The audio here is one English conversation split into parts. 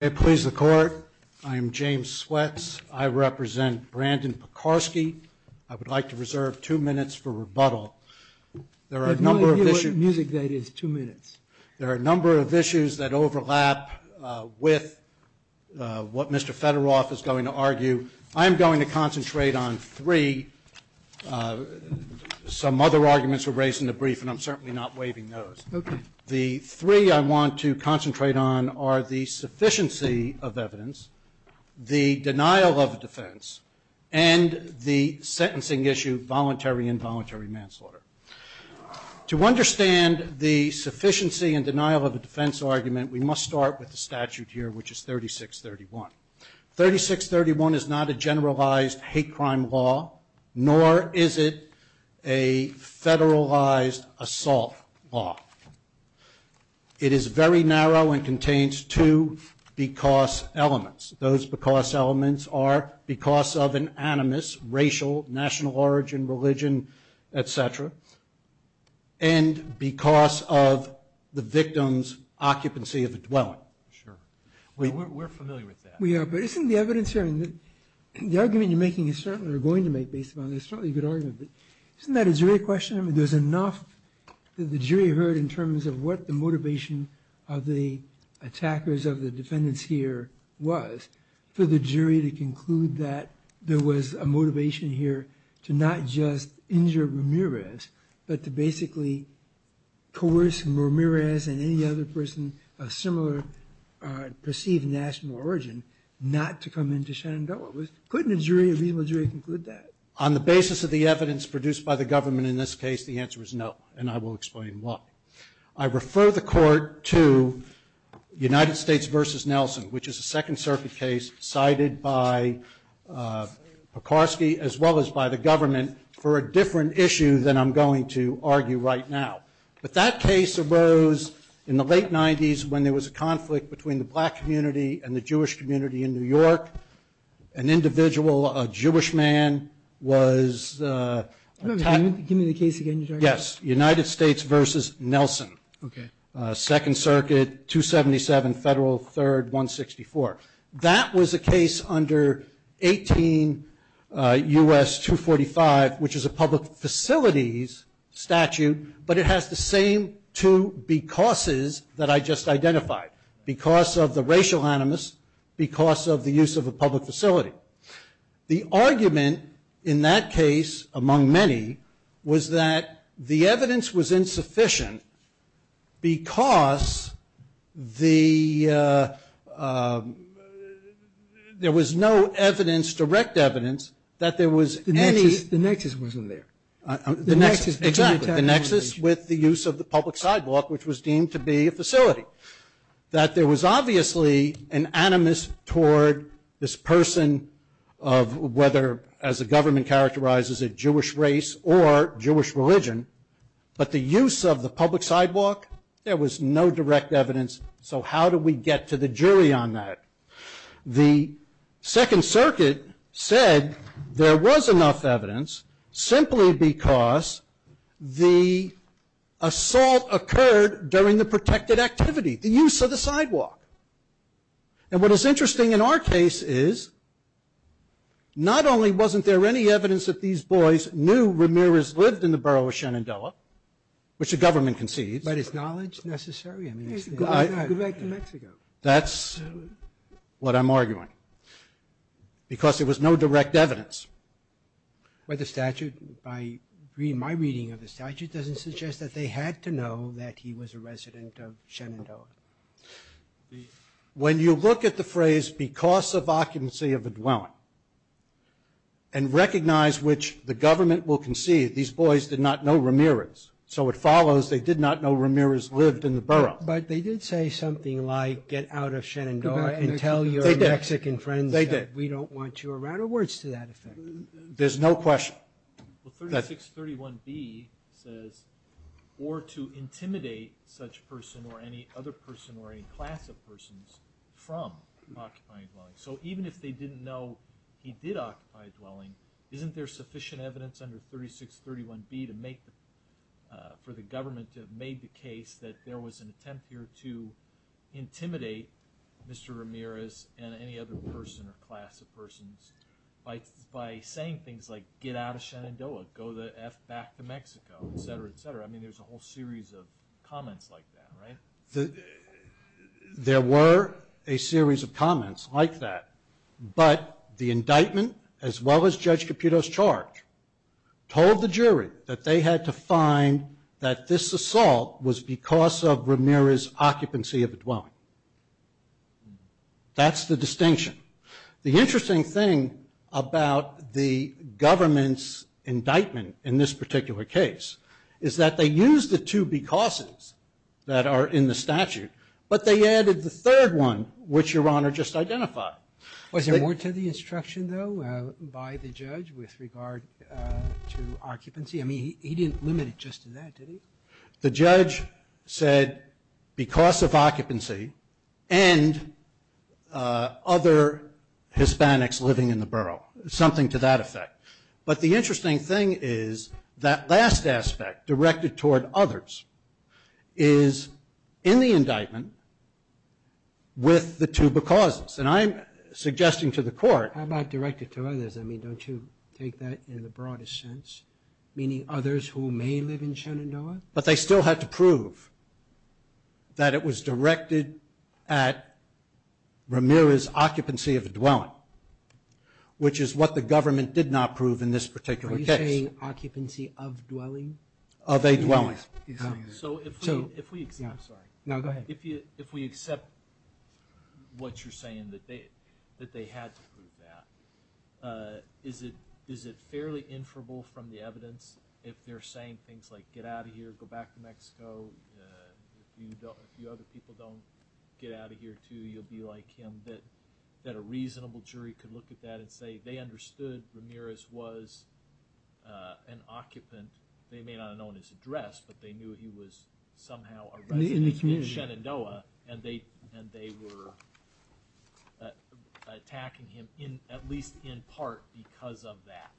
I please the court. I am James Sweats. I represent Brandon Piekarsky. I would like to reserve two minutes for rebuttal. There are a number of issues. I have no idea what music that is, two minutes. There are a number of issues that overlap with what Mr. Federoff is going to argue. I am going to concentrate on three. Some other arguments were raised in the brief, and I'm certainly not waiving those. The three I want to concentrate on are the sufficiency of evidence, the denial of a defense, and the sentencing issue, voluntary and involuntary manslaughter. To understand the sufficiency and denial of a defense argument, we must start with the statute here, which is 3631. 3631 is not a generalized hate crime law, nor is it a federalized assault law. It is very narrow and contains two because elements. Those because elements are because of an animus, racial, national origin, religion, et cetera, and because of the victim's occupancy of a dwelling. We're familiar with that. We are, but isn't the evidence here, and the argument you're making is certainly, or are going to make based upon this, certainly a good argument, but isn't that a jury question? I mean, there's enough that the jury heard in terms of what the motivation of the attackers of the defendants here was for the jury to conclude that there was a motivation here to not just injure Ramirez, but to basically coerce Ramirez and any other person of similar perceived national origin not to come into Shenandoah. Couldn't a jury, a reasonable jury, conclude that? On the basis of the evidence produced by the government in this case, the answer is no, and I will explain why. I refer the Court to United States v. Nelson, which is a Second Circuit case cited by Pekarsky as well as by the government for a different issue than I'm going to argue right now, but that case arose in the late 90s when there was a conflict between the black community and the Jewish community in New York. An individual, a Jewish man, was attacked. Give me the case again. Yes, United States v. Nelson. Okay. Second Circuit, 277 Federal 3rd 164. That was a case under 18 U.S. 245, which is a public facilities statute, but it has the same two becauses that I just identified, because of the racial animus, because of the use of a public facility. The argument in that case, among many, was that the evidence was insufficient because there was no evidence, direct evidence, that there was any. The nexus wasn't there. The nexus. Exactly. The nexus with the use of the public sidewalk, which was deemed to be a facility. That there was obviously an animus toward this person of whether, as the government characterizes it, Jewish race or Jewish religion, but the use of the public sidewalk, there was no direct evidence, so how do we get to the jury on that? The Second Circuit said there was enough evidence simply because the assault occurred during the protected activity, the use of the sidewalk. And what is interesting in our case is not only wasn't there any evidence that these boys knew Ramirez lived in the borough of Shenandoah, which the government concedes. But is knowledge necessary? Go back to Mexico. That's what I'm arguing, because there was no direct evidence. But the statute, by my reading of the statute, doesn't suggest that they had to know that he was a resident of Shenandoah. When you look at the phrase, because of occupancy of a dwelling, and recognize which the government will concede, these boys did not know Ramirez, so it follows they did not know Ramirez lived in the borough. But they did say something like, get out of Shenandoah and tell your Mexican friends that we don't want you around, so what are words to that effect? There's no question. 3631B says, or to intimidate such person or any other person or any class of persons from occupying a dwelling. So even if they didn't know he did occupy a dwelling, isn't there sufficient evidence under 3631B for the government to have made the case that there was an attempt here to intimidate Mr. Ramirez and any other person or class of persons by saying things like, get out of Shenandoah, go the F back to Mexico, et cetera, et cetera. I mean, there's a whole series of comments like that, right? There were a series of comments like that, but the indictment, as well as Judge Caputo's charge, told the jury that they had to find that this assault was because of Ramirez' occupancy of a dwelling. That's the distinction. The interesting thing about the government's indictment in this particular case is that they used the two becauses that are in the statute, but they added the third one, which Your Honor just identified. Was there more to the instruction, though, by the judge with regard to occupancy? I mean, he didn't limit it just to that, did he? The judge said because of occupancy and other Hispanics living in the borough, something to that effect. But the interesting thing is that last aspect, directed toward others, is in the indictment with the two becauses. And I'm suggesting to the court- How about directed to others? I mean, don't you take that in the broadest sense, meaning others who may live in Shenandoah? But they still had to prove that it was directed at Ramirez' occupancy of a dwelling, which is what the government did not prove in this particular case. Of a dwelling. So if we accept- I'm sorry. No, go ahead. If we accept what you're saying, that they had to prove that, is it fairly inferable from the evidence, if they're saying things like, get out of here, go back to Mexico, if you other people don't get out of here too, you'll be like him, that a reasonable jury could look at that and say they understood Ramirez was an occupant. They may not have known his address, but they knew he was somehow a resident in Shenandoah, and they were attacking him, at least in part, because of that.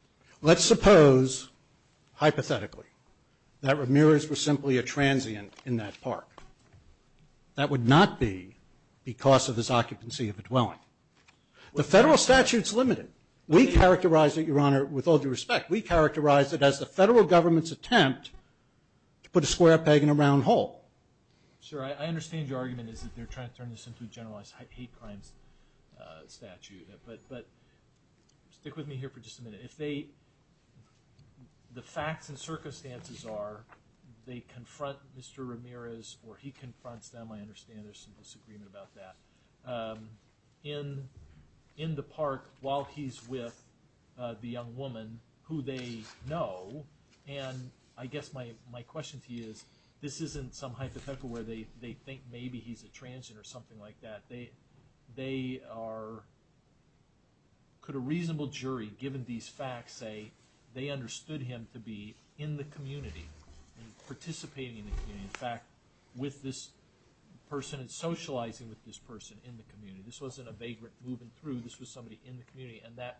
Let's suppose, hypothetically, that Ramirez was simply a transient in that park. That would not be because of his occupancy of a dwelling. The federal statute's limited. We characterize it, Your Honor, with all due respect. We characterize it as the federal government's attempt to put a square peg in a round hole. Sir, I understand your argument is that they're trying to turn this into a generalized hate crimes statute, but stick with me here for just a minute. If the facts and circumstances are they confront Mr. Ramirez or he confronts them, I understand there's some disagreement about that, in the park while he's with the young woman who they know, and I guess my question to you is this isn't some hypothetical where they think maybe he's a transient or something like that. They are, could a reasonable jury, given these facts, say they understood him to be in the community, participating in the community, in fact, with this person and socializing with this person in the community. This wasn't a vagrant moving through. This was somebody in the community, and that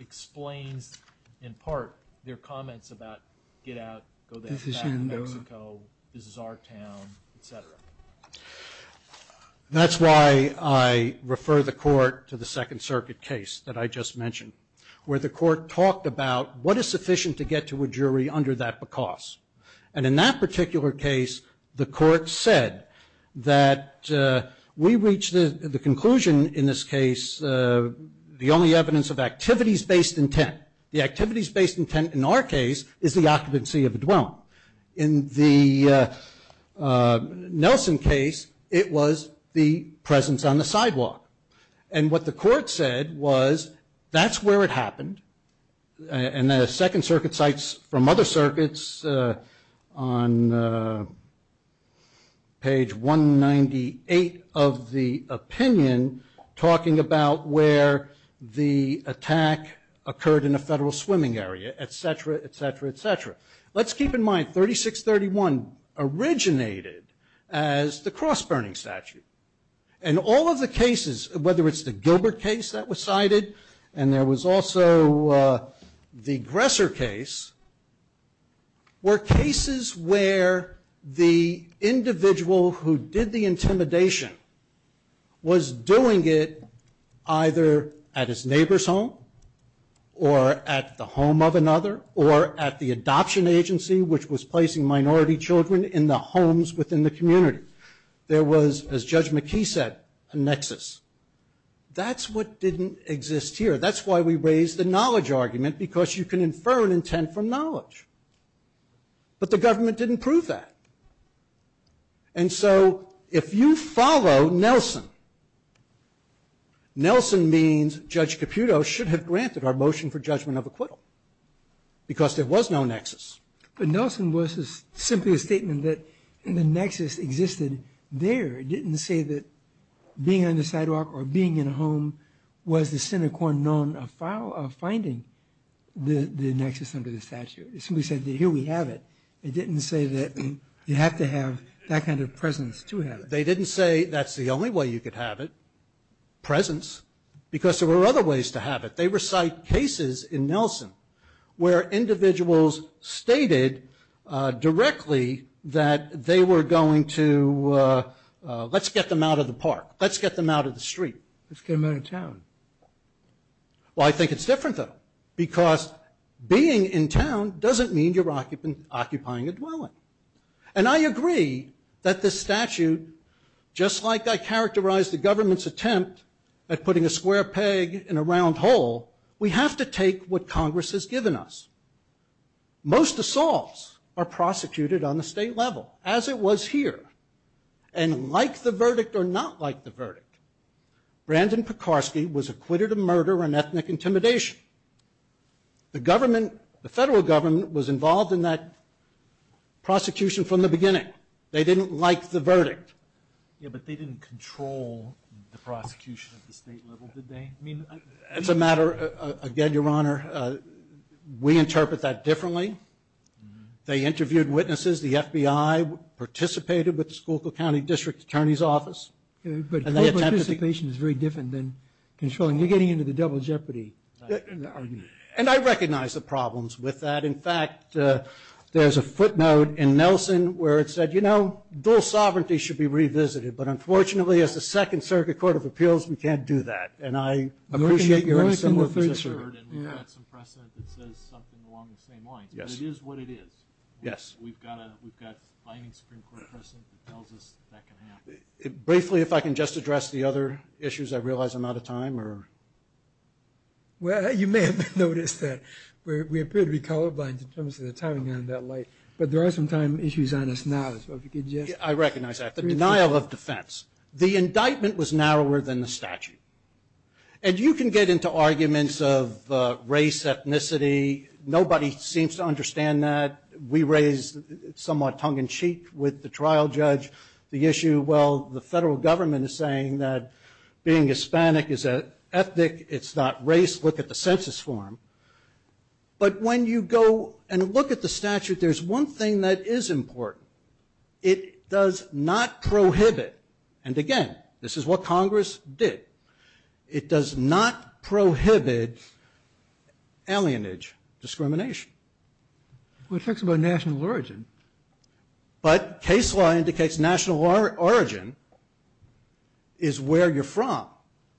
explains, in part, their comments about get out, go there, back to Mexico, this is our town, et cetera. That's why I refer the court to the Second Circuit case that I just mentioned, where the court talked about what is sufficient to get to a jury under that because. And in that particular case, the court said that we reached the conclusion in this case, the only evidence of activities-based intent, the activities-based intent in our case is the occupancy of a dwelling. In the Nelson case, it was the presence on the sidewalk. And what the court said was that's where it happened. And the Second Circuit cites from other circuits on page 198 of the opinion, talking about where the attack occurred in a federal swimming area, et cetera, et cetera, et cetera. Let's keep in mind 3631 originated as the cross-burning statute. And all of the cases, whether it's the Gilbert case that was cited, and there was also the Gresser case, were cases where the individual who did the intimidation was doing it either at his neighbor's home, or at the home of another, or at the adoption agency, which was placing minority children in the homes within the community. There was, as Judge McKee said, a nexus. That's what didn't exist here. That's why we raised the knowledge argument, because you can infer an intent from knowledge. But the government didn't prove that. And so if you follow Nelson, Nelson means Judge Caputo should have granted our motion for judgment of acquittal, because there was no nexus. But Nelson was simply a statement that the nexus existed there. It didn't say that being on the sidewalk or being in a home was the sine qua non of finding the nexus under the statute. It simply said that here we have it. It didn't say that you have to have that kind of presence to have it. They didn't say that's the only way you could have it, presence, because there were other ways to have it. They recite cases in Nelson where individuals stated directly that they were going to, let's get them out of the park. Let's get them out of the street. Let's get them out of town. Well, I think it's different, though, because being in town doesn't mean you're occupying a dwelling. And I agree that this statute, just like I characterized the government's attempt at putting a square peg in a round hole, we have to take what Congress has given us. Most assaults are prosecuted on the state level, as it was here. And like the verdict or not like the verdict, Brandon Pekarsky was acquitted of murder and ethnic intimidation. The government, the federal government was involved in that prosecution from the beginning. They didn't like the verdict. Yeah, but they didn't control the prosecution at the state level, did they? I mean, it's a matter, again, Your Honor, we interpret that differently. They interviewed witnesses. The FBI participated with the Schuylkill County District Attorney's Office. But co-participation is very different than controlling. You're getting into the double jeopardy argument. And I recognize the problems with that. In fact, there's a footnote in Nelson where it said, you know, dual sovereignty should be revisited. But unfortunately, as the Second Circuit Court of Appeals, we can't do that. And I appreciate you're in a similar position. We've got some precedent that says something along the same lines. But it is what it is. We've got a binding Supreme Court precedent that tells us that can happen. Briefly, if I can just address the other issues, I realize I'm out of time. Well, you may have noticed that we appear to be colorblind in terms of the timing on that light. But there are some time issues on us now. I recognize that. The denial of defense. The indictment was narrower than the statute. And you can get into arguments of race, ethnicity. Nobody seems to understand that. We raised somewhat tongue-in-cheek with the trial judge. The issue, well, the federal government is saying that being Hispanic is ethnic. It's not race. Look at the census form. But when you go and look at the statute, there's one thing that is important. It does not prohibit. And, again, this is what Congress did. It does not prohibit alienage discrimination. Well, it talks about national origin. But case law indicates national origin is where you're from.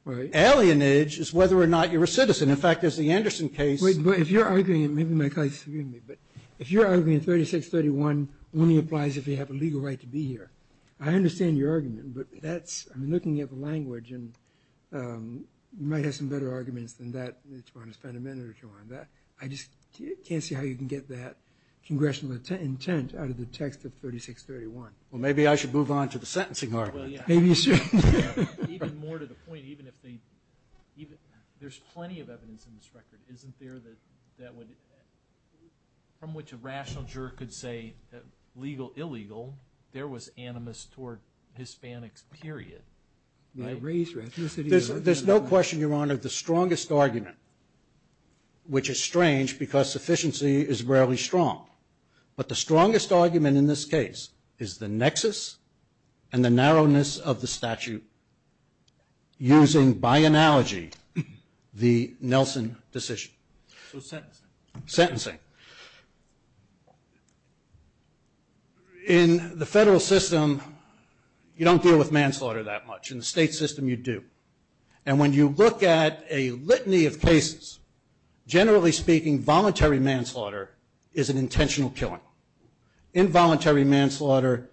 Right. Alienage is whether or not you're a citizen. In fact, as the Anderson case. But if you're arguing, maybe my colleagues can hear me. But if you're arguing 3631 only applies if you have a legal right to be here, I understand your argument. But that's, I mean, looking at the language, and you might have some better arguments than that. You might want to spend a minute or two on that. I just can't see how you can get that congressional intent out of the text of 3631. Well, maybe I should move on to the sentencing argument. Well, yeah. Maybe you should. Even more to the point, even if they, there's plenty of evidence in this record, isn't there, that would, from which a rational jerk could say legal, illegal, there was animus toward Hispanics, period. My race, ethnicity. There's no question, Your Honor, the strongest argument, which is strange because sufficiency is rarely strong. But the strongest argument in this case is the nexus and the narrowness of the statute, using by analogy the Nelson decision. So sentencing. Sentencing. In the federal system, you don't deal with manslaughter that much. In the state system, you do. And when you look at a litany of cases, generally speaking, voluntary manslaughter is an intentional killing. Involuntary manslaughter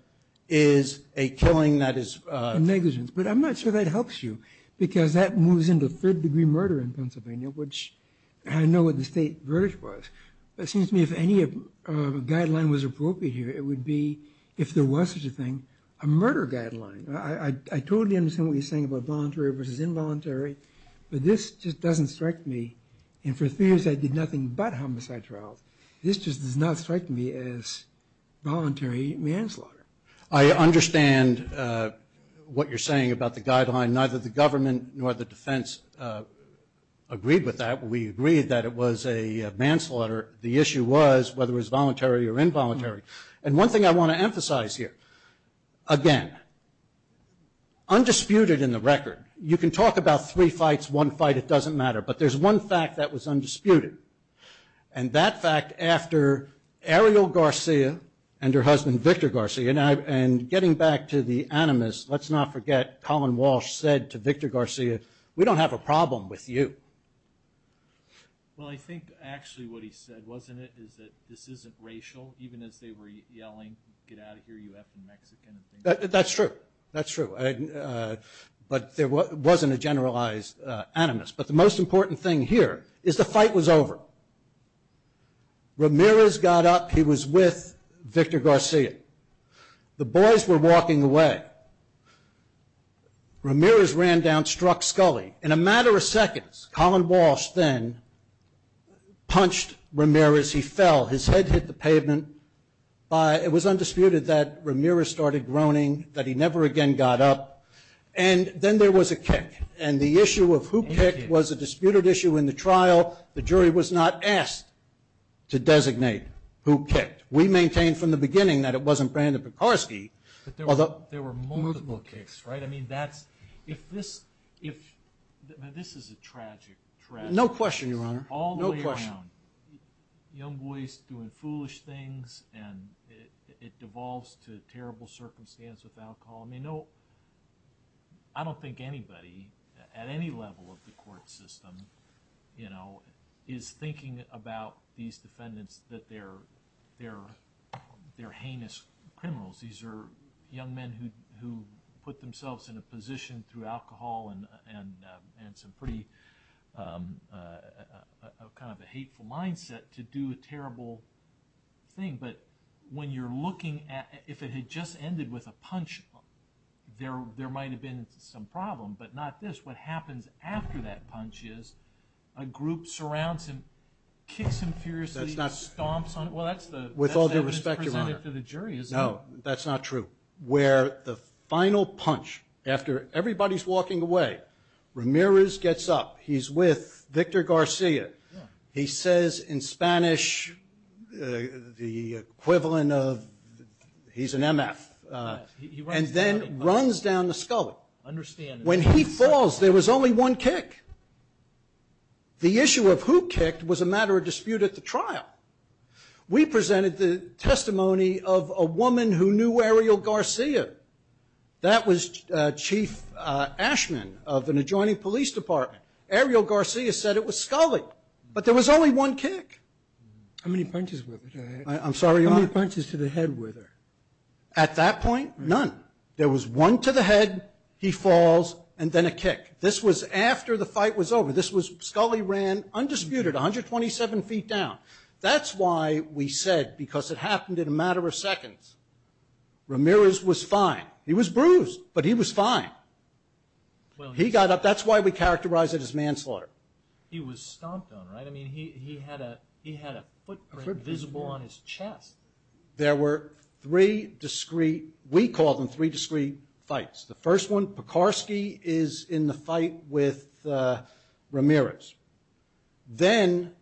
is a killing that is negligent. But I'm not sure that helps you because that moves into third degree murder in Pennsylvania, which I know what the state verdict was. But it seems to me if any guideline was appropriate here, it would be, if there was such a thing, a murder guideline. I totally understand what you're saying about voluntary versus involuntary. But this just doesn't strike me. And for three years I did nothing but homicide trials. This just does not strike me as voluntary manslaughter. I understand what you're saying about the guideline. Neither the government nor the defense agreed with that. We agreed that it was a manslaughter. The issue was whether it was voluntary or involuntary. And one thing I want to emphasize here, again, undisputed in the record. You can talk about three fights, one fight, it doesn't matter. But there's one fact that was undisputed. And that fact after Ariel Garcia and her husband Victor Garcia, and getting back to the animus, let's not forget Colin Walsh said to Victor Garcia, we don't have a problem with you. Well, I think actually what he said, wasn't it, is that this isn't racial? Even as they were yelling, get out of here, you effing Mexican. That's true. That's true. But there wasn't a generalized animus. But the most important thing here is the fight was over. Ramirez got up. He was with Victor Garcia. The boys were walking away. Ramirez ran down, struck Scully. In a matter of seconds, Colin Walsh then punched Ramirez. He fell. His head hit the pavement. It was undisputed that Ramirez started groaning, that he never again got up. And then there was a kick. And the issue of who kicked was a disputed issue in the trial. The jury was not asked to designate who kicked. We maintained from the beginning that it wasn't Brandon Pekorski. But there were multiple kicks, right? I mean, that's, if this, this is a tragic tragedy. No question, Your Honor. All the way around. Young boys doing foolish things and it devolves to terrible circumstance with alcohol. I mean, no, I don't think anybody at any level of the court system, you know, is thinking about these defendants that they're heinous criminals. These are young men who put themselves in a position through alcohol and some pretty kind of a hateful mindset to do a terrible thing. But when you're looking at, if it had just ended with a punch, there might have been some problem. But not this. What happens after that punch is a group surrounds him, kicks him furiously, stomps on him. With all due respect, Your Honor. No, that's not true. Where the final punch, after everybody's walking away, Ramirez gets up. He's with Victor Garcia. He says in Spanish the equivalent of he's an M.F. And then runs down the scully. Understand. When he falls, there was only one kick. The issue of who kicked was a matter of dispute at the trial. We presented the testimony of a woman who knew Ariel Garcia. That was Chief Ashman of an adjoining police department. Ariel Garcia said it was scully. But there was only one kick. How many punches were there? I'm sorry, Your Honor. How many punches to the head were there? At that point, none. There was one to the head, he falls, and then a kick. This was after the fight was over. This was scully ran, undisputed, 127 feet down. That's why we said, because it happened in a matter of seconds, Ramirez was fine. He was bruised, but he was fine. He got up. That's why we characterize it as manslaughter. He was stomped on, right? I mean, he had a footprint visible on his chest. There were three discrete, we call them three discrete fights. The first one, Pekarsky is in the fight with Ramirez. Then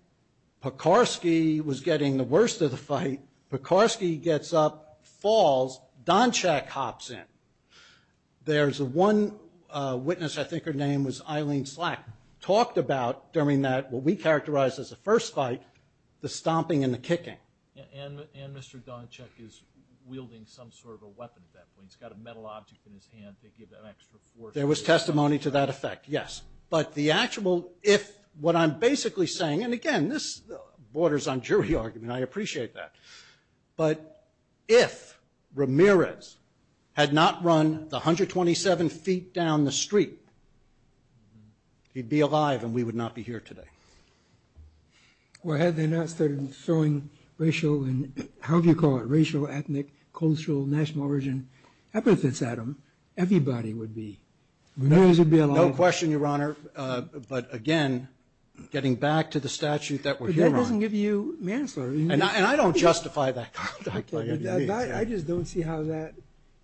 Pekarsky was getting the worst of the fight. Pekarsky gets up, falls, Donchack hops in. There's one witness, I think her name was Eileen Slack, talked about during that, what we characterized as the first fight, the stomping and the kicking. And Mr. Donchack is wielding some sort of a weapon at that point. He's got a metal object in his hand to give that extra force. There was testimony to that effect, yes. But the actual, if what I'm basically saying, and again this borders on jury argument, I appreciate that. But if Ramirez had not run the 127 feet down the street, he'd be alive and we would not be here today. Well, had they not started throwing racial and, however you call it, racial, ethnic, cultural, national origin epithets at him, everybody would be. Ramirez would be alive. No question, Your Honor. But again, getting back to the statute that we're here on. But that doesn't give you manslaughter. And I don't justify that. I just don't see how that,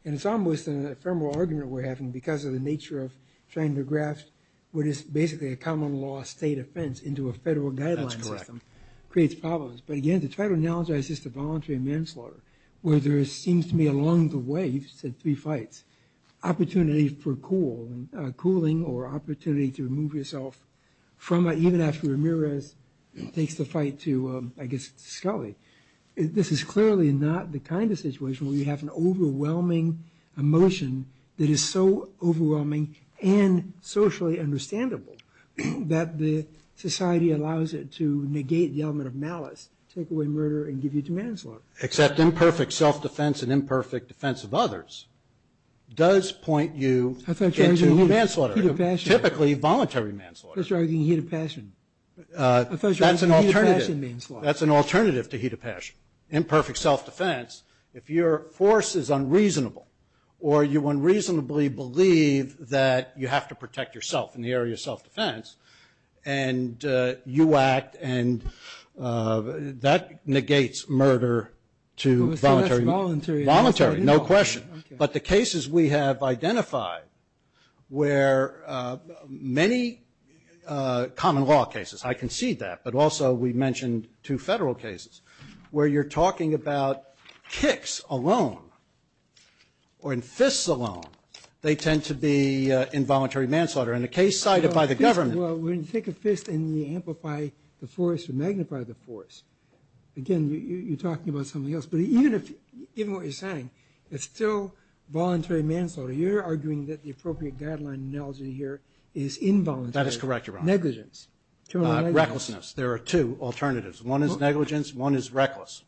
and it's almost an ephemeral argument we're having because of the nature of trying to graft what is basically a common law state offense into a federal guideline system. That's correct. It creates problems. But again, to try to analogize this to voluntary manslaughter, where there seems to be along the way, you said three fights, opportunity for cooling or opportunity to remove yourself from, even after Ramirez takes the fight to, I guess, Scully. This is clearly not the kind of situation where you have an overwhelming emotion that is so overwhelming and socially understandable that the society allows it to negate the element of malice, take away murder, and give you to manslaughter. Except imperfect self-defense and imperfect defense of others does point you into manslaughter, typically voluntary manslaughter. I thought you were talking about heat of passion. That's an alternative to heat of passion. Imperfect self-defense, if your force is unreasonable or you unreasonably believe that you have to protect yourself in the area of self-defense, and you act, and that negates murder to voluntary manslaughter. So that's voluntary. Voluntary, no question. Okay. But the cases we have identified where many common law cases, I concede that, but also we mentioned two federal cases, where you're talking about kicks alone or in fists alone, they tend to be involuntary manslaughter. In the case cited by the government. Well, when you take a fist and you amplify the force or magnify the force, again, you're talking about something else. But even what you're saying, it's still voluntary manslaughter. You're arguing that the appropriate guideline analogy here is involuntary. That is correct, Your Honor. Negligence. Recklessness. There are two alternatives. One is negligence. One is reckless.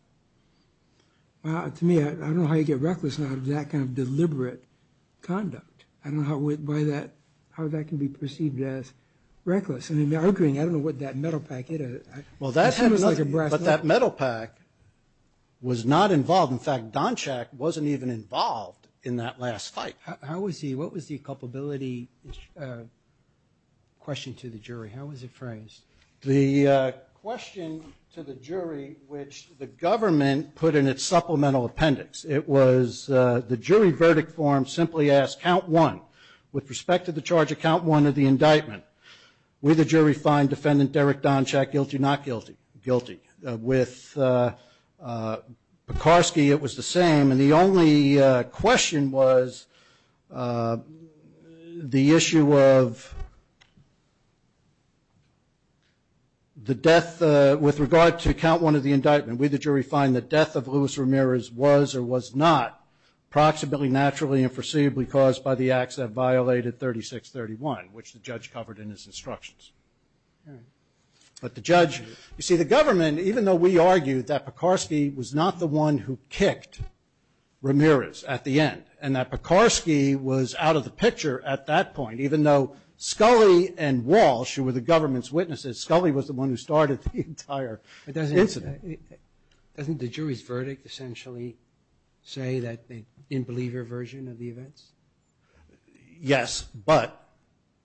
Well, to me, I don't know how you get reckless out of that kind of deliberate conduct. I don't know how that can be perceived as reckless. I mean, arguing, I don't know what that metal packet is. Well, that had nothing. It seems like a brass knuckle. But that metal pack was not involved. In fact, Donchak wasn't even involved in that last fight. How was he? What was the culpability question to the jury? How was it phrased? The question to the jury, which the government put in its supplemental appendix, it was the jury verdict form simply asked, count one with respect to the charge of count one of the indictment. Will the jury find defendant Derek Donchak guilty, not guilty? Guilty. With Pekarsky, it was the same. And the only question was the issue of the death with regard to count one of the indictment. Will the jury find the death of Louis Ramirez was or was not proximately, naturally, and foreseeably caused by the acts that violated 3631, which the judge covered in his instructions? But the judge, you see, the government, even though we argued that Pekarsky was not the one who kicked Ramirez at the end, and that Pekarsky was out of the picture at that point, even though Scully and Walsh, who were the government's witnesses, Scully was the one who started the entire incident. Doesn't the jury's verdict essentially say that the in-believer version of the events? Yes, but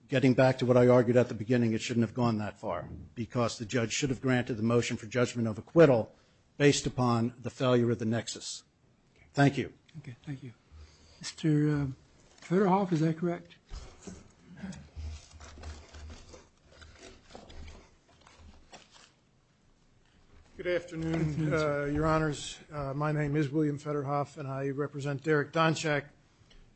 getting back to what I argued at the beginning, it shouldn't have gone that far, because the judge should have granted the motion for judgment of acquittal based upon the failure of the nexus. Thank you. Thank you. Mr. Federhoff, is that correct? Good afternoon, Your Honors. My name is William Federhoff, and I represent Derek Donchack.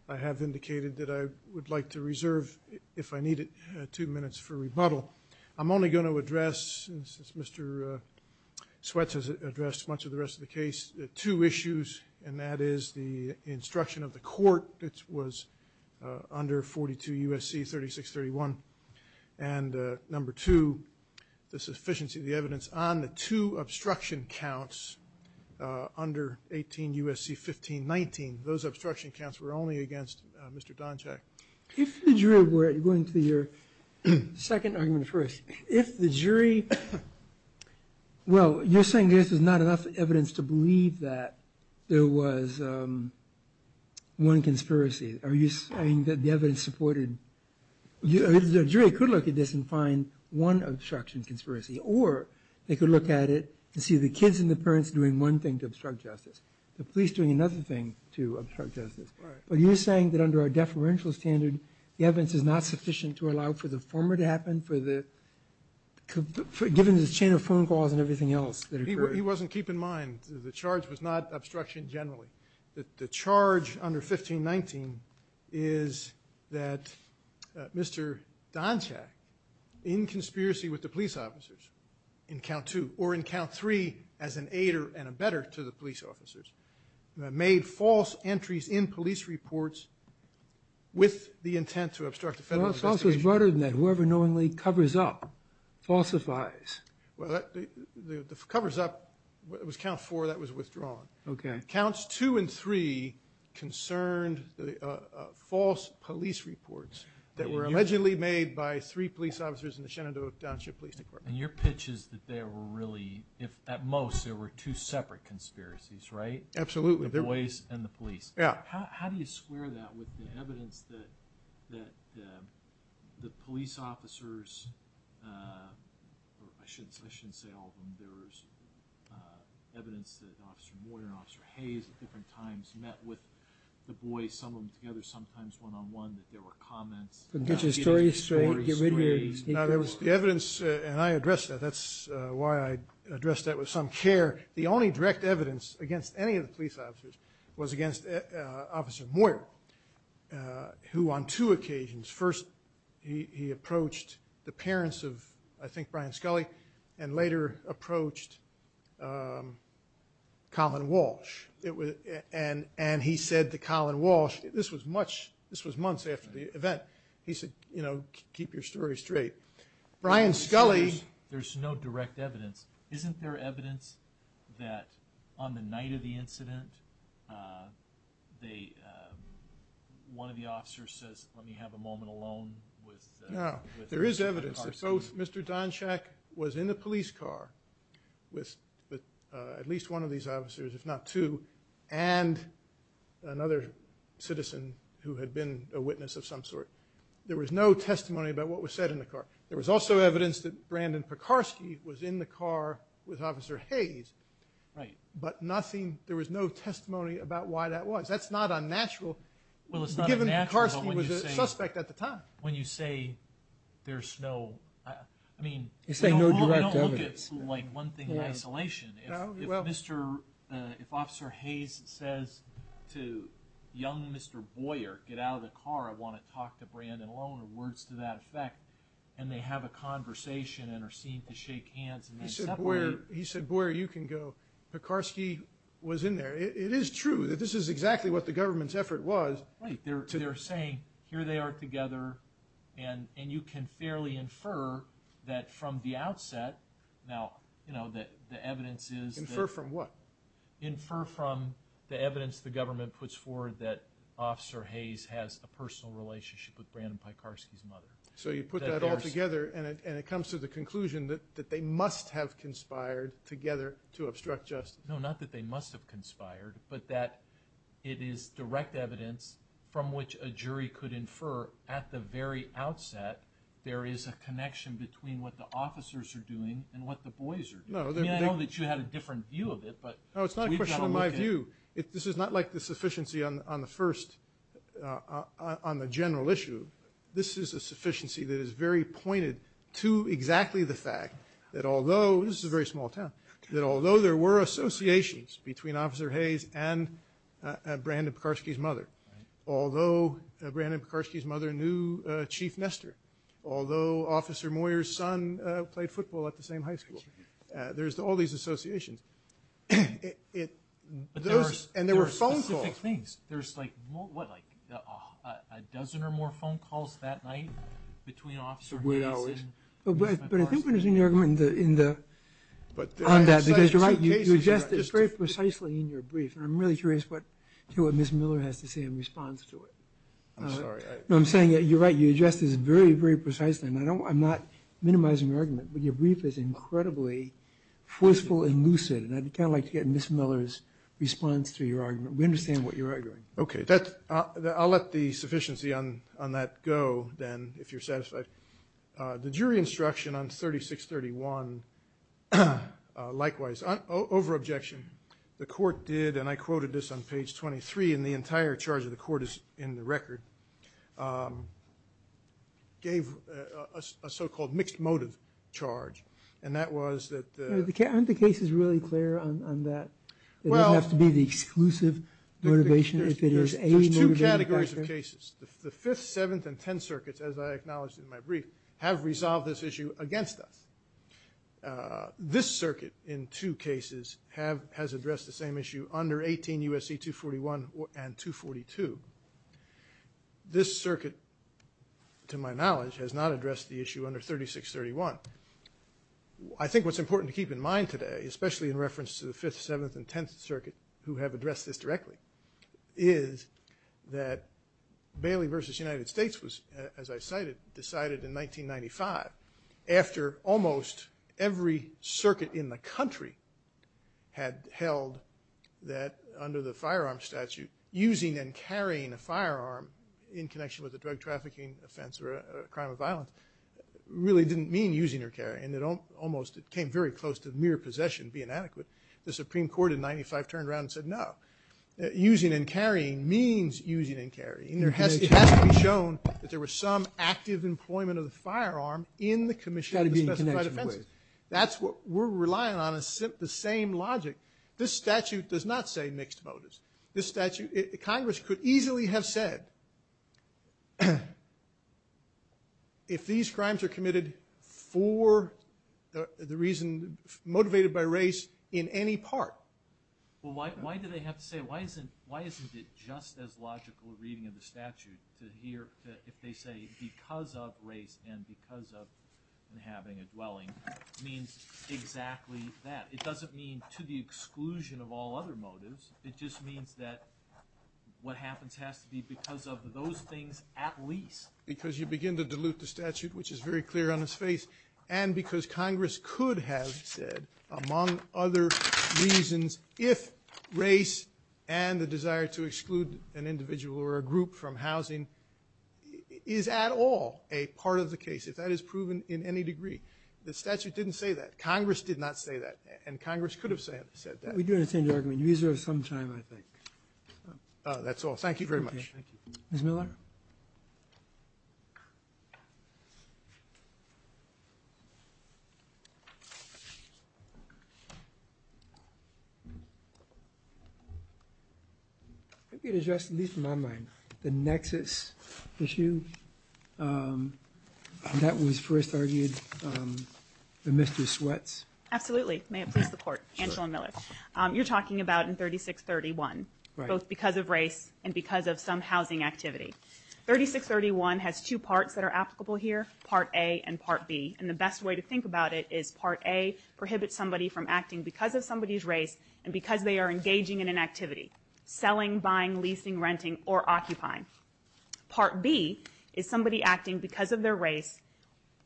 I have indicated that I would like to reserve, if I need it, two minutes for rebuttal. I'm only going to address, since Mr. Sweats has addressed much of the rest of the case, two issues, and that is the instruction of the court, which was under 42 U.S.C. 3631, and number two, the sufficiency of the evidence on the two obstruction counts under 18 U.S.C. 1519. Those obstruction counts were only against Mr. Donchack. If the jury were, going to your second argument first, If the jury, well, you're saying there's not enough evidence to believe that there was one conspiracy. Are you saying that the evidence supported, the jury could look at this and find one obstruction conspiracy, or they could look at it and see the kids and the parents doing one thing to obstruct justice, the police doing another thing to obstruct justice. But you're saying that under our deferential standard, the evidence is not sufficient to allow for the former to happen, given the chain of phone calls and everything else that occurred. He wasn't keeping in mind the charge was not obstruction generally. The charge under 1519 is that Mr. Donchack, in conspiracy with the police officers in count two, or in count three as an aider and a better to the police officers, made false entries in police reports with the intent to obstruct the federal investigation. The charge was broader than that. Whoever knowingly covers up, falsifies. Well, the covers up, it was count four that was withdrawn. Okay. Counts two and three concerned the false police reports that were allegedly made by three police officers in the Shenandoah Township Police Department. And your pitch is that there were really, if at most, there were two separate conspiracies, right? Absolutely. The boys and the police. Yeah. How do you square that with the evidence that the police officers, I shouldn't say all of them, there was evidence that Officer Moyer and Officer Hayes at different times met with the boys, some of them together, sometimes one-on-one, that there were comments. Get your story straight, get rid of your... The evidence, and I addressed that, that's why I addressed that with some care. The only direct evidence against any of the police officers was against Officer Moyer, who on two occasions, first he approached the parents of, I think, Brian Scully, and later approached Colin Walsh. And he said to Colin Walsh, this was months after the event, he said, you know, keep your story straight. Brian Scully... that on the night of the incident, one of the officers says, let me have a moment alone with... No, there is evidence that both Mr. Donchack was in the police car with at least one of these officers, if not two, and another citizen who had been a witness of some sort. There was no testimony about what was said in the car. There was also evidence that Brandon Pekarsky was in the car with Officer Hayes. Right. But nothing, there was no testimony about why that was. That's not unnatural, given Pekarsky was a suspect at the time. When you say there's no, I mean... You say no direct evidence. We don't look at, like, one thing in isolation. If Officer Hayes says to young Mr. Moyer, get out of the car, I want to talk to Brandon alone, or words to that effect, and they have a conversation and are seen to shake hands... He said, Boyer, you can go. Pekarsky was in there. It is true that this is exactly what the government's effort was. Right. They're saying, here they are together, and you can fairly infer that from the outset, now, you know, the evidence is... Infer from what? Infer from the evidence the government puts forward that Officer Hayes has a personal relationship with Brandon Pekarsky's mother. So you put that all together, and it comes to the conclusion that they must have conspired together to obstruct justice. No, not that they must have conspired, but that it is direct evidence from which a jury could infer at the very outset there is a connection between what the officers are doing and what the boys are doing. I mean, I know that you had a different view of it, but we've got to look at it. No, it's not a question of my view. This is not like the sufficiency on the first, on the general issue. This is a sufficiency that is very pointed to exactly the fact that although, this is a very small town, that although there were associations between Officer Hayes and Brandon Pekarsky's mother, although Brandon Pekarsky's mother knew Chief Nestor, although Officer Moyer's son played football at the same high school, there's all these associations. And there were phone calls. But there are specific things. There's like, what, like a dozen or more phone calls that night between Officer Hayes and Mr. Pekarsky. But I think what is in your argument on that, because you're right, you address this very precisely in your brief, and I'm really curious to hear what Ms. Miller has to say in response to it. I'm sorry. No, I'm saying that you're right. You address this very, very precisely, and I'm not minimizing your argument, but your brief is incredibly forceful and lucid, and I'd kind of like to get Ms. Miller's response to your argument. We understand what you're arguing. Okay. I'll let the sufficiency on that go then, if you're satisfied. The jury instruction on 3631, likewise, over-objection. The court did, and I quoted this on page 23, and the entire charge of the court is in the record, gave a so-called mixed motive charge, and that was that the – Aren't the cases really clear on that? It doesn't have to be the exclusive motivation. There's two categories of cases. The Fifth, Seventh, and Tenth Circuits, as I acknowledged in my brief, have resolved this issue against us. This circuit, in two cases, has addressed the same issue under 18 U.S.C. 241 and 242. This circuit, to my knowledge, has not addressed the issue under 3631. I think what's important to keep in mind today, especially in reference to the Fifth, Seventh, and Tenth Circuit, who have addressed this directly, is that Bailey v. United States was, as I cited, decided in 1995, after almost every circuit in the country had held that, under the firearm statute, using and carrying a firearm in connection with a drug trafficking offense or a crime of violence really didn't mean using or carrying. It almost came very close to mere possession being adequate. The Supreme Court in 1995 turned around and said no. Using and carrying means using and carrying. It has to be shown that there was some active employment of the firearm in the commission of the specified offenses. That's what we're relying on, the same logic. This statute does not say mixed motives. This statute, Congress could easily have said, if these crimes are committed for the reason motivated by race in any part. Well, why do they have to say, why isn't it just as logical a reading of the statute to hear, if they say because of race and because of having a dwelling, means exactly that? It doesn't mean to the exclusion of all other motives. It just means that what happens has to be because of those things at least. Because you begin to dilute the statute, which is very clear on its face, and because Congress could have said, among other reasons, if race and the desire to exclude an individual or a group from housing is at all a part of the case, if that is proven in any degree. The statute didn't say that. Congress did not say that. And Congress could have said that. We do understand your argument. You've used it for some time, I think. That's all. Thank you very much. Ms. Miller? Thank you. If you could address, at least in my mind, the nexus issue that was first argued in Mr. Sweat's. Absolutely. May it please the Court. Angela Miller. You're talking about in 3631, both because of race and because of some housing activity. 3631 has two parts that are applicable here, Part A and Part B. And the best way to think about it is Part A prohibits somebody from acting because of somebody's race and because they are engaging in an activity, selling, buying, leasing, renting, or occupying. Part B is somebody acting because of their race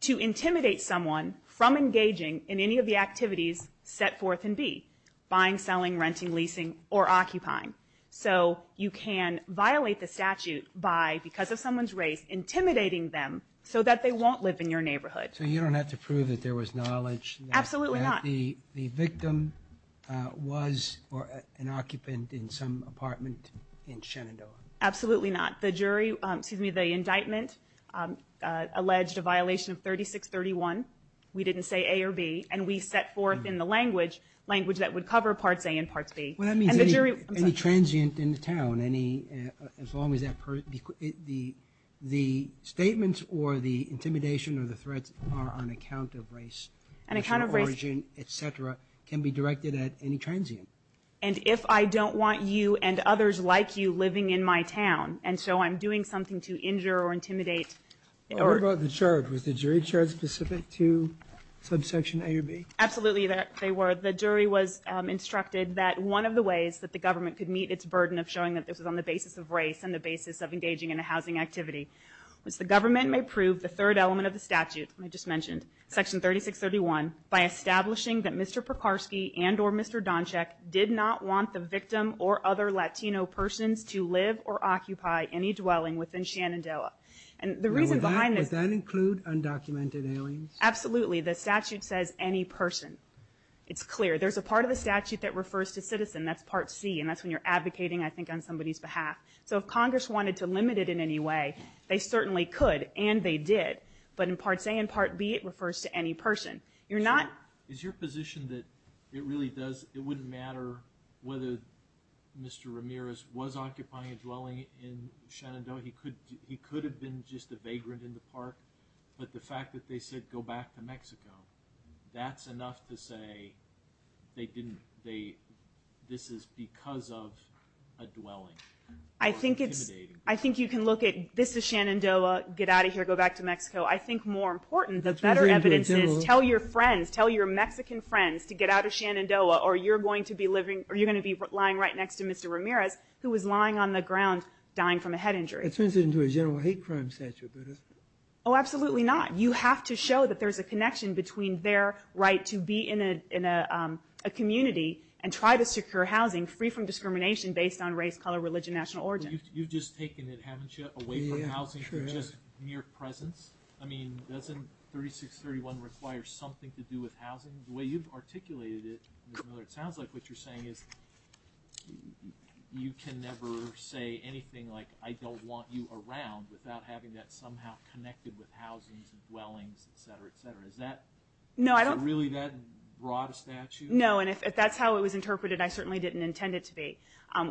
to intimidate someone from engaging in any of the activities set forth in B, buying, selling, renting, leasing, or occupying. So you can violate the statute by, because of someone's race, intimidating them so that they won't live in your neighborhood. So you don't have to prove that there was knowledge that the victim was an occupant in some apartment in Shenandoah. Absolutely not. The jury, excuse me, the indictment alleged a violation of 3631. We didn't say A or B, and we set forth in the language, language that would cover Parts A and Parts B. Well, that means any transient in the town, as long as that, the statements or the intimidation or the threats are on account of race, national origin, et cetera, can be directed at any transient. And if I don't want you and others like you living in my town, and so I'm doing something to injure or intimidate. What about the charge? Was the jury charge specific to subsection A or B? Absolutely, they were. So the jury was instructed that one of the ways that the government could meet its burden of showing that this was on the basis of race and the basis of engaging in a housing activity was the government may prove the third element of the statute I just mentioned, Section 3631, by establishing that Mr. Pekarsky and or Mr. Donchek did not want the victim or other Latino persons to live or occupy any dwelling within Shenandoah. And the reason behind this – Would that include undocumented aliens? Absolutely. The statute says any person. It's clear. There's a part of the statute that refers to citizen. That's Part C, and that's when you're advocating, I think, on somebody's behalf. So if Congress wanted to limit it in any way, they certainly could, and they did. But in Parts A and Part B, it refers to any person. Sure. Is your position that it wouldn't matter whether Mr. Ramirez was occupying a dwelling in Shenandoah? He could have been just a vagrant in the park, but the fact that they said go back to Mexico, that's enough to say this is because of a dwelling. I think you can look at this is Shenandoah, get out of here, go back to Mexico. I think more important, the better evidence is tell your friends, tell your Mexican friends to get out of Shenandoah or you're going to be lying right next to Mr. Ramirez, who was lying on the ground dying from a head injury. That turns it into a general hate crime statute. Oh, absolutely not. You have to show that there's a connection between their right to be in a community and try to secure housing free from discrimination based on race, color, religion, national origin. You've just taken it, haven't you, away from housing for just mere presence? I mean, doesn't 3631 require something to do with housing? The way you've articulated it, Ms. Miller, it sounds like what you're saying is you can never say anything like I don't want you around without having that somehow connected with housing and dwellings, et cetera, et cetera. Is that really that broad a statute? No, and if that's how it was interpreted, I certainly didn't intend it to be.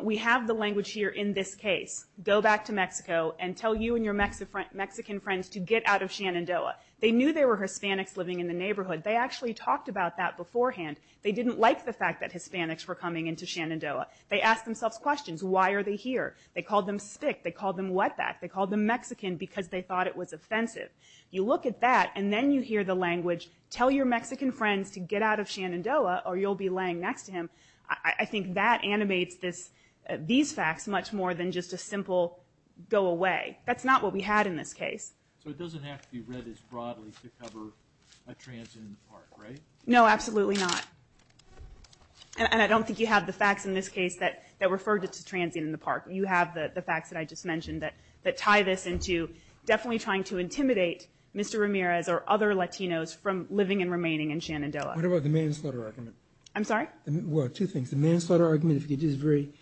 We have the language here in this case, go back to Mexico and tell you and your Mexican friends to get out of Shenandoah. They knew there were Hispanics living in the neighborhood. They actually talked about that beforehand. They didn't like the fact that Hispanics were coming into Shenandoah. They asked themselves questions. Why are they here? They called them stick. They called them wetback. They called them Mexican because they thought it was offensive. You look at that and then you hear the language, tell your Mexican friends to get out of Shenandoah or you'll be laying next to him. I think that animates these facts much more than just a simple go away. That's not what we had in this case. So it doesn't have to be read as broadly to cover a transient in the park, right? No, absolutely not. And I don't think you have the facts in this case that refer to transient in the park. You have the facts that I just mentioned that tie this into definitely trying to intimidate Mr. Ramirez or other Latinos from living and remaining in Shenandoah. What about the manslaughter argument? I'm sorry? Well, two things. The manslaughter argument, if you could just very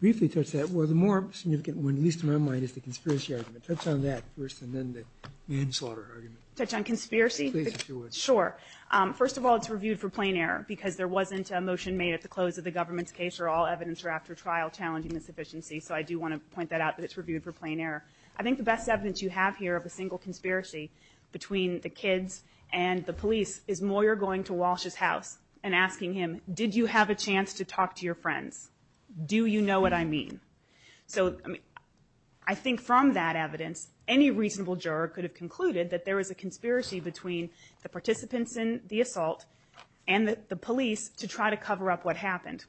briefly touch that. Well, the more significant one, at least in my mind, is the conspiracy argument. Touch on that first and then the manslaughter argument. Touch on conspiracy? Please, if you would. Sure. First of all, it's reviewed for plain error because there wasn't a motion made at the close of the government's case where all evidence were after trial challenging the sufficiency. So I do want to point that out that it's reviewed for plain error. I think the best evidence you have here of a single conspiracy between the kids and the police is Moyer going to Walsh's house and asking him, did you have a chance to talk to your friends? Do you know what I mean? So I think from that evidence, any reasonable juror could have concluded that there was a conspiracy between the participants in the assault and the police to try to cover up what happened.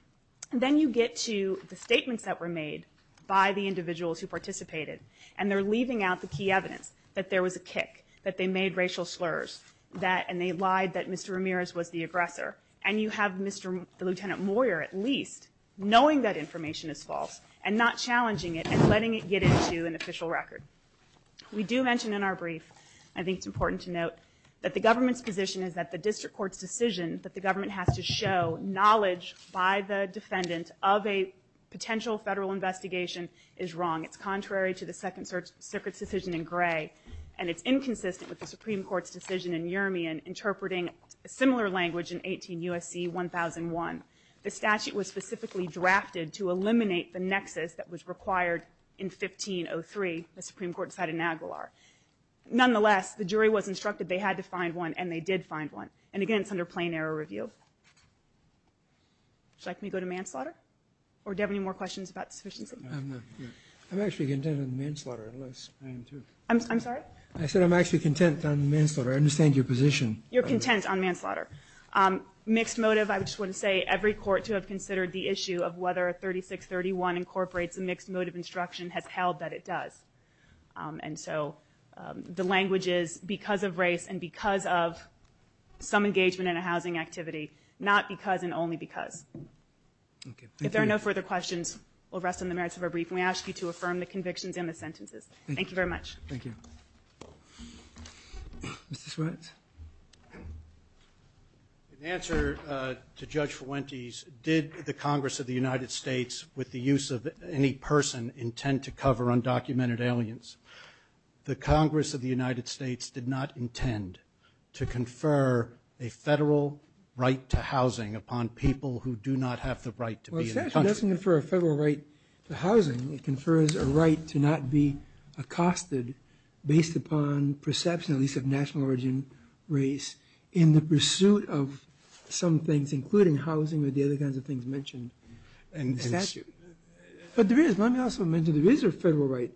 Then you get to the statements that were made by the individuals who participated, and they're leaving out the key evidence that there was a kick, that they made racial slurs, and they lied that Mr. Ramirez was the aggressor. And you have Lieutenant Moyer, at least, knowing that information is false and not challenging it and letting it get into an official record. We do mention in our brief, I think it's important to note, that the government's position is that the district court's decision that the government has to show knowledge by the defendant of a potential federal investigation is wrong. It's contrary to the Second Circuit's decision in Gray, and it's inconsistent with the Supreme Court's decision in Urimian interpreting a similar language in 18 U.S.C. 1001. The statute was specifically drafted to eliminate the nexus that was required in 1503, the Supreme Court decided in Aguilar. Nonetheless, the jury was instructed they had to find one, and they did find one. And again, it's under plain error review. Would you like me to go to manslaughter? Or do you have any more questions about sufficiency? I'm actually content on manslaughter, unless I am too. I'm sorry? I said I'm actually content on manslaughter. I understand your position. You're content on manslaughter. Mixed motive, I just want to say, every court to have considered the issue of whether 3631 incorporates a mixed motive instruction has held that it does. And so the language is because of race and because of some engagement in a housing activity, not because and only because. If there are no further questions, we'll rest on the merits of our brief, and we ask you to affirm the convictions and the sentences. Thank you very much. Thank you. Mr. Swartz? In answer to Judge Fuentes, did the Congress of the United States, with the use of any person, intend to cover undocumented aliens? The Congress of the United States did not intend to confer a federal right to housing upon people who do not have the right to be in the country. Well, it doesn't confer a federal right to housing. It confers a right to not be accosted based upon perception, at least of national origin, race, in the pursuit of some things, including housing or the other kinds of things mentioned in the statute. But there is, let me also mention there is a federal right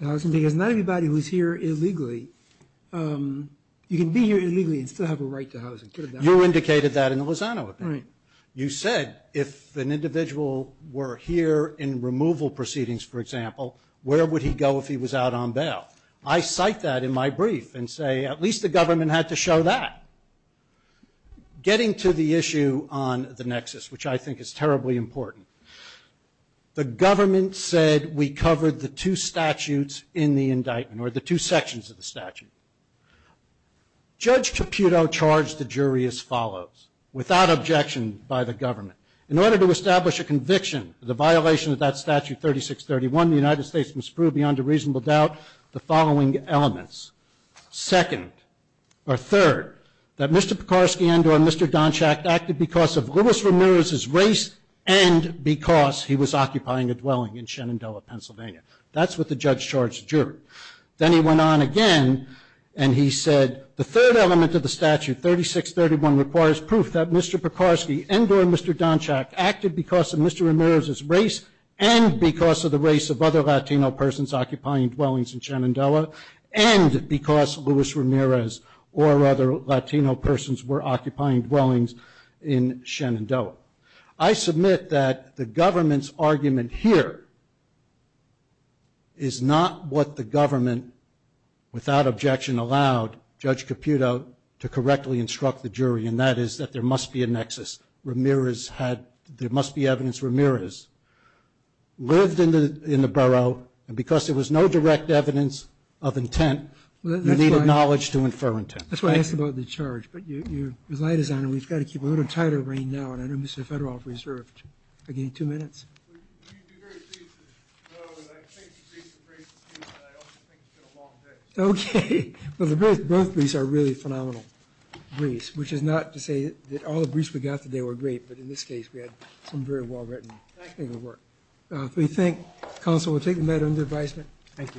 to housing because not everybody who is here illegally, you can be here illegally and still have a right to housing. You indicated that in the Lozano opinion. Right. You said if an individual were here in removal proceedings, for example, where would he go if he was out on bail? I cite that in my brief and say at least the government had to show that. Getting to the issue on the nexus, which I think is terribly important, the government said we covered the two statutes in the indictment or the two sections of the statute. Judge Caputo charged the jury as follows, without objection by the government. In order to establish a conviction, the violation of that statute 3631, the United States must prove beyond a reasonable doubt the following elements. Second, or third, that Mr. Pekorsky and or Mr. Donchack acted because of Louis Ramirez's race and because he was occupying a dwelling in Shenandoah, Pennsylvania. That's what the judge charged the jury. Then he went on again and he said the third element of the statute, 3631, requires proof that Mr. Pekorsky and or Mr. Donchack acted because of Mr. Pekorsky's race of other Latino persons occupying dwellings in Shenandoah and because Louis Ramirez or other Latino persons were occupying dwellings in Shenandoah. I submit that the government's argument here is not what the government, without objection, allowed Judge Caputo to correctly instruct the jury, and that is that there must be a nexus. Ramirez had, there must be evidence Ramirez lived in the, in the borough and because there was no direct evidence of intent, you needed knowledge to infer intent. That's why I asked about the charge. But your light is on and we've got to keep a little tighter rein now. And I know Mr. Federoff reserved. I gave you two minutes. Okay. Well, the birth, both of these are really phenomenal. Grease, which is not to say that all the briefs we got today were great, but in this case we had some very well written work. We thank counsel. We'll take the matter under advisement. Thank you.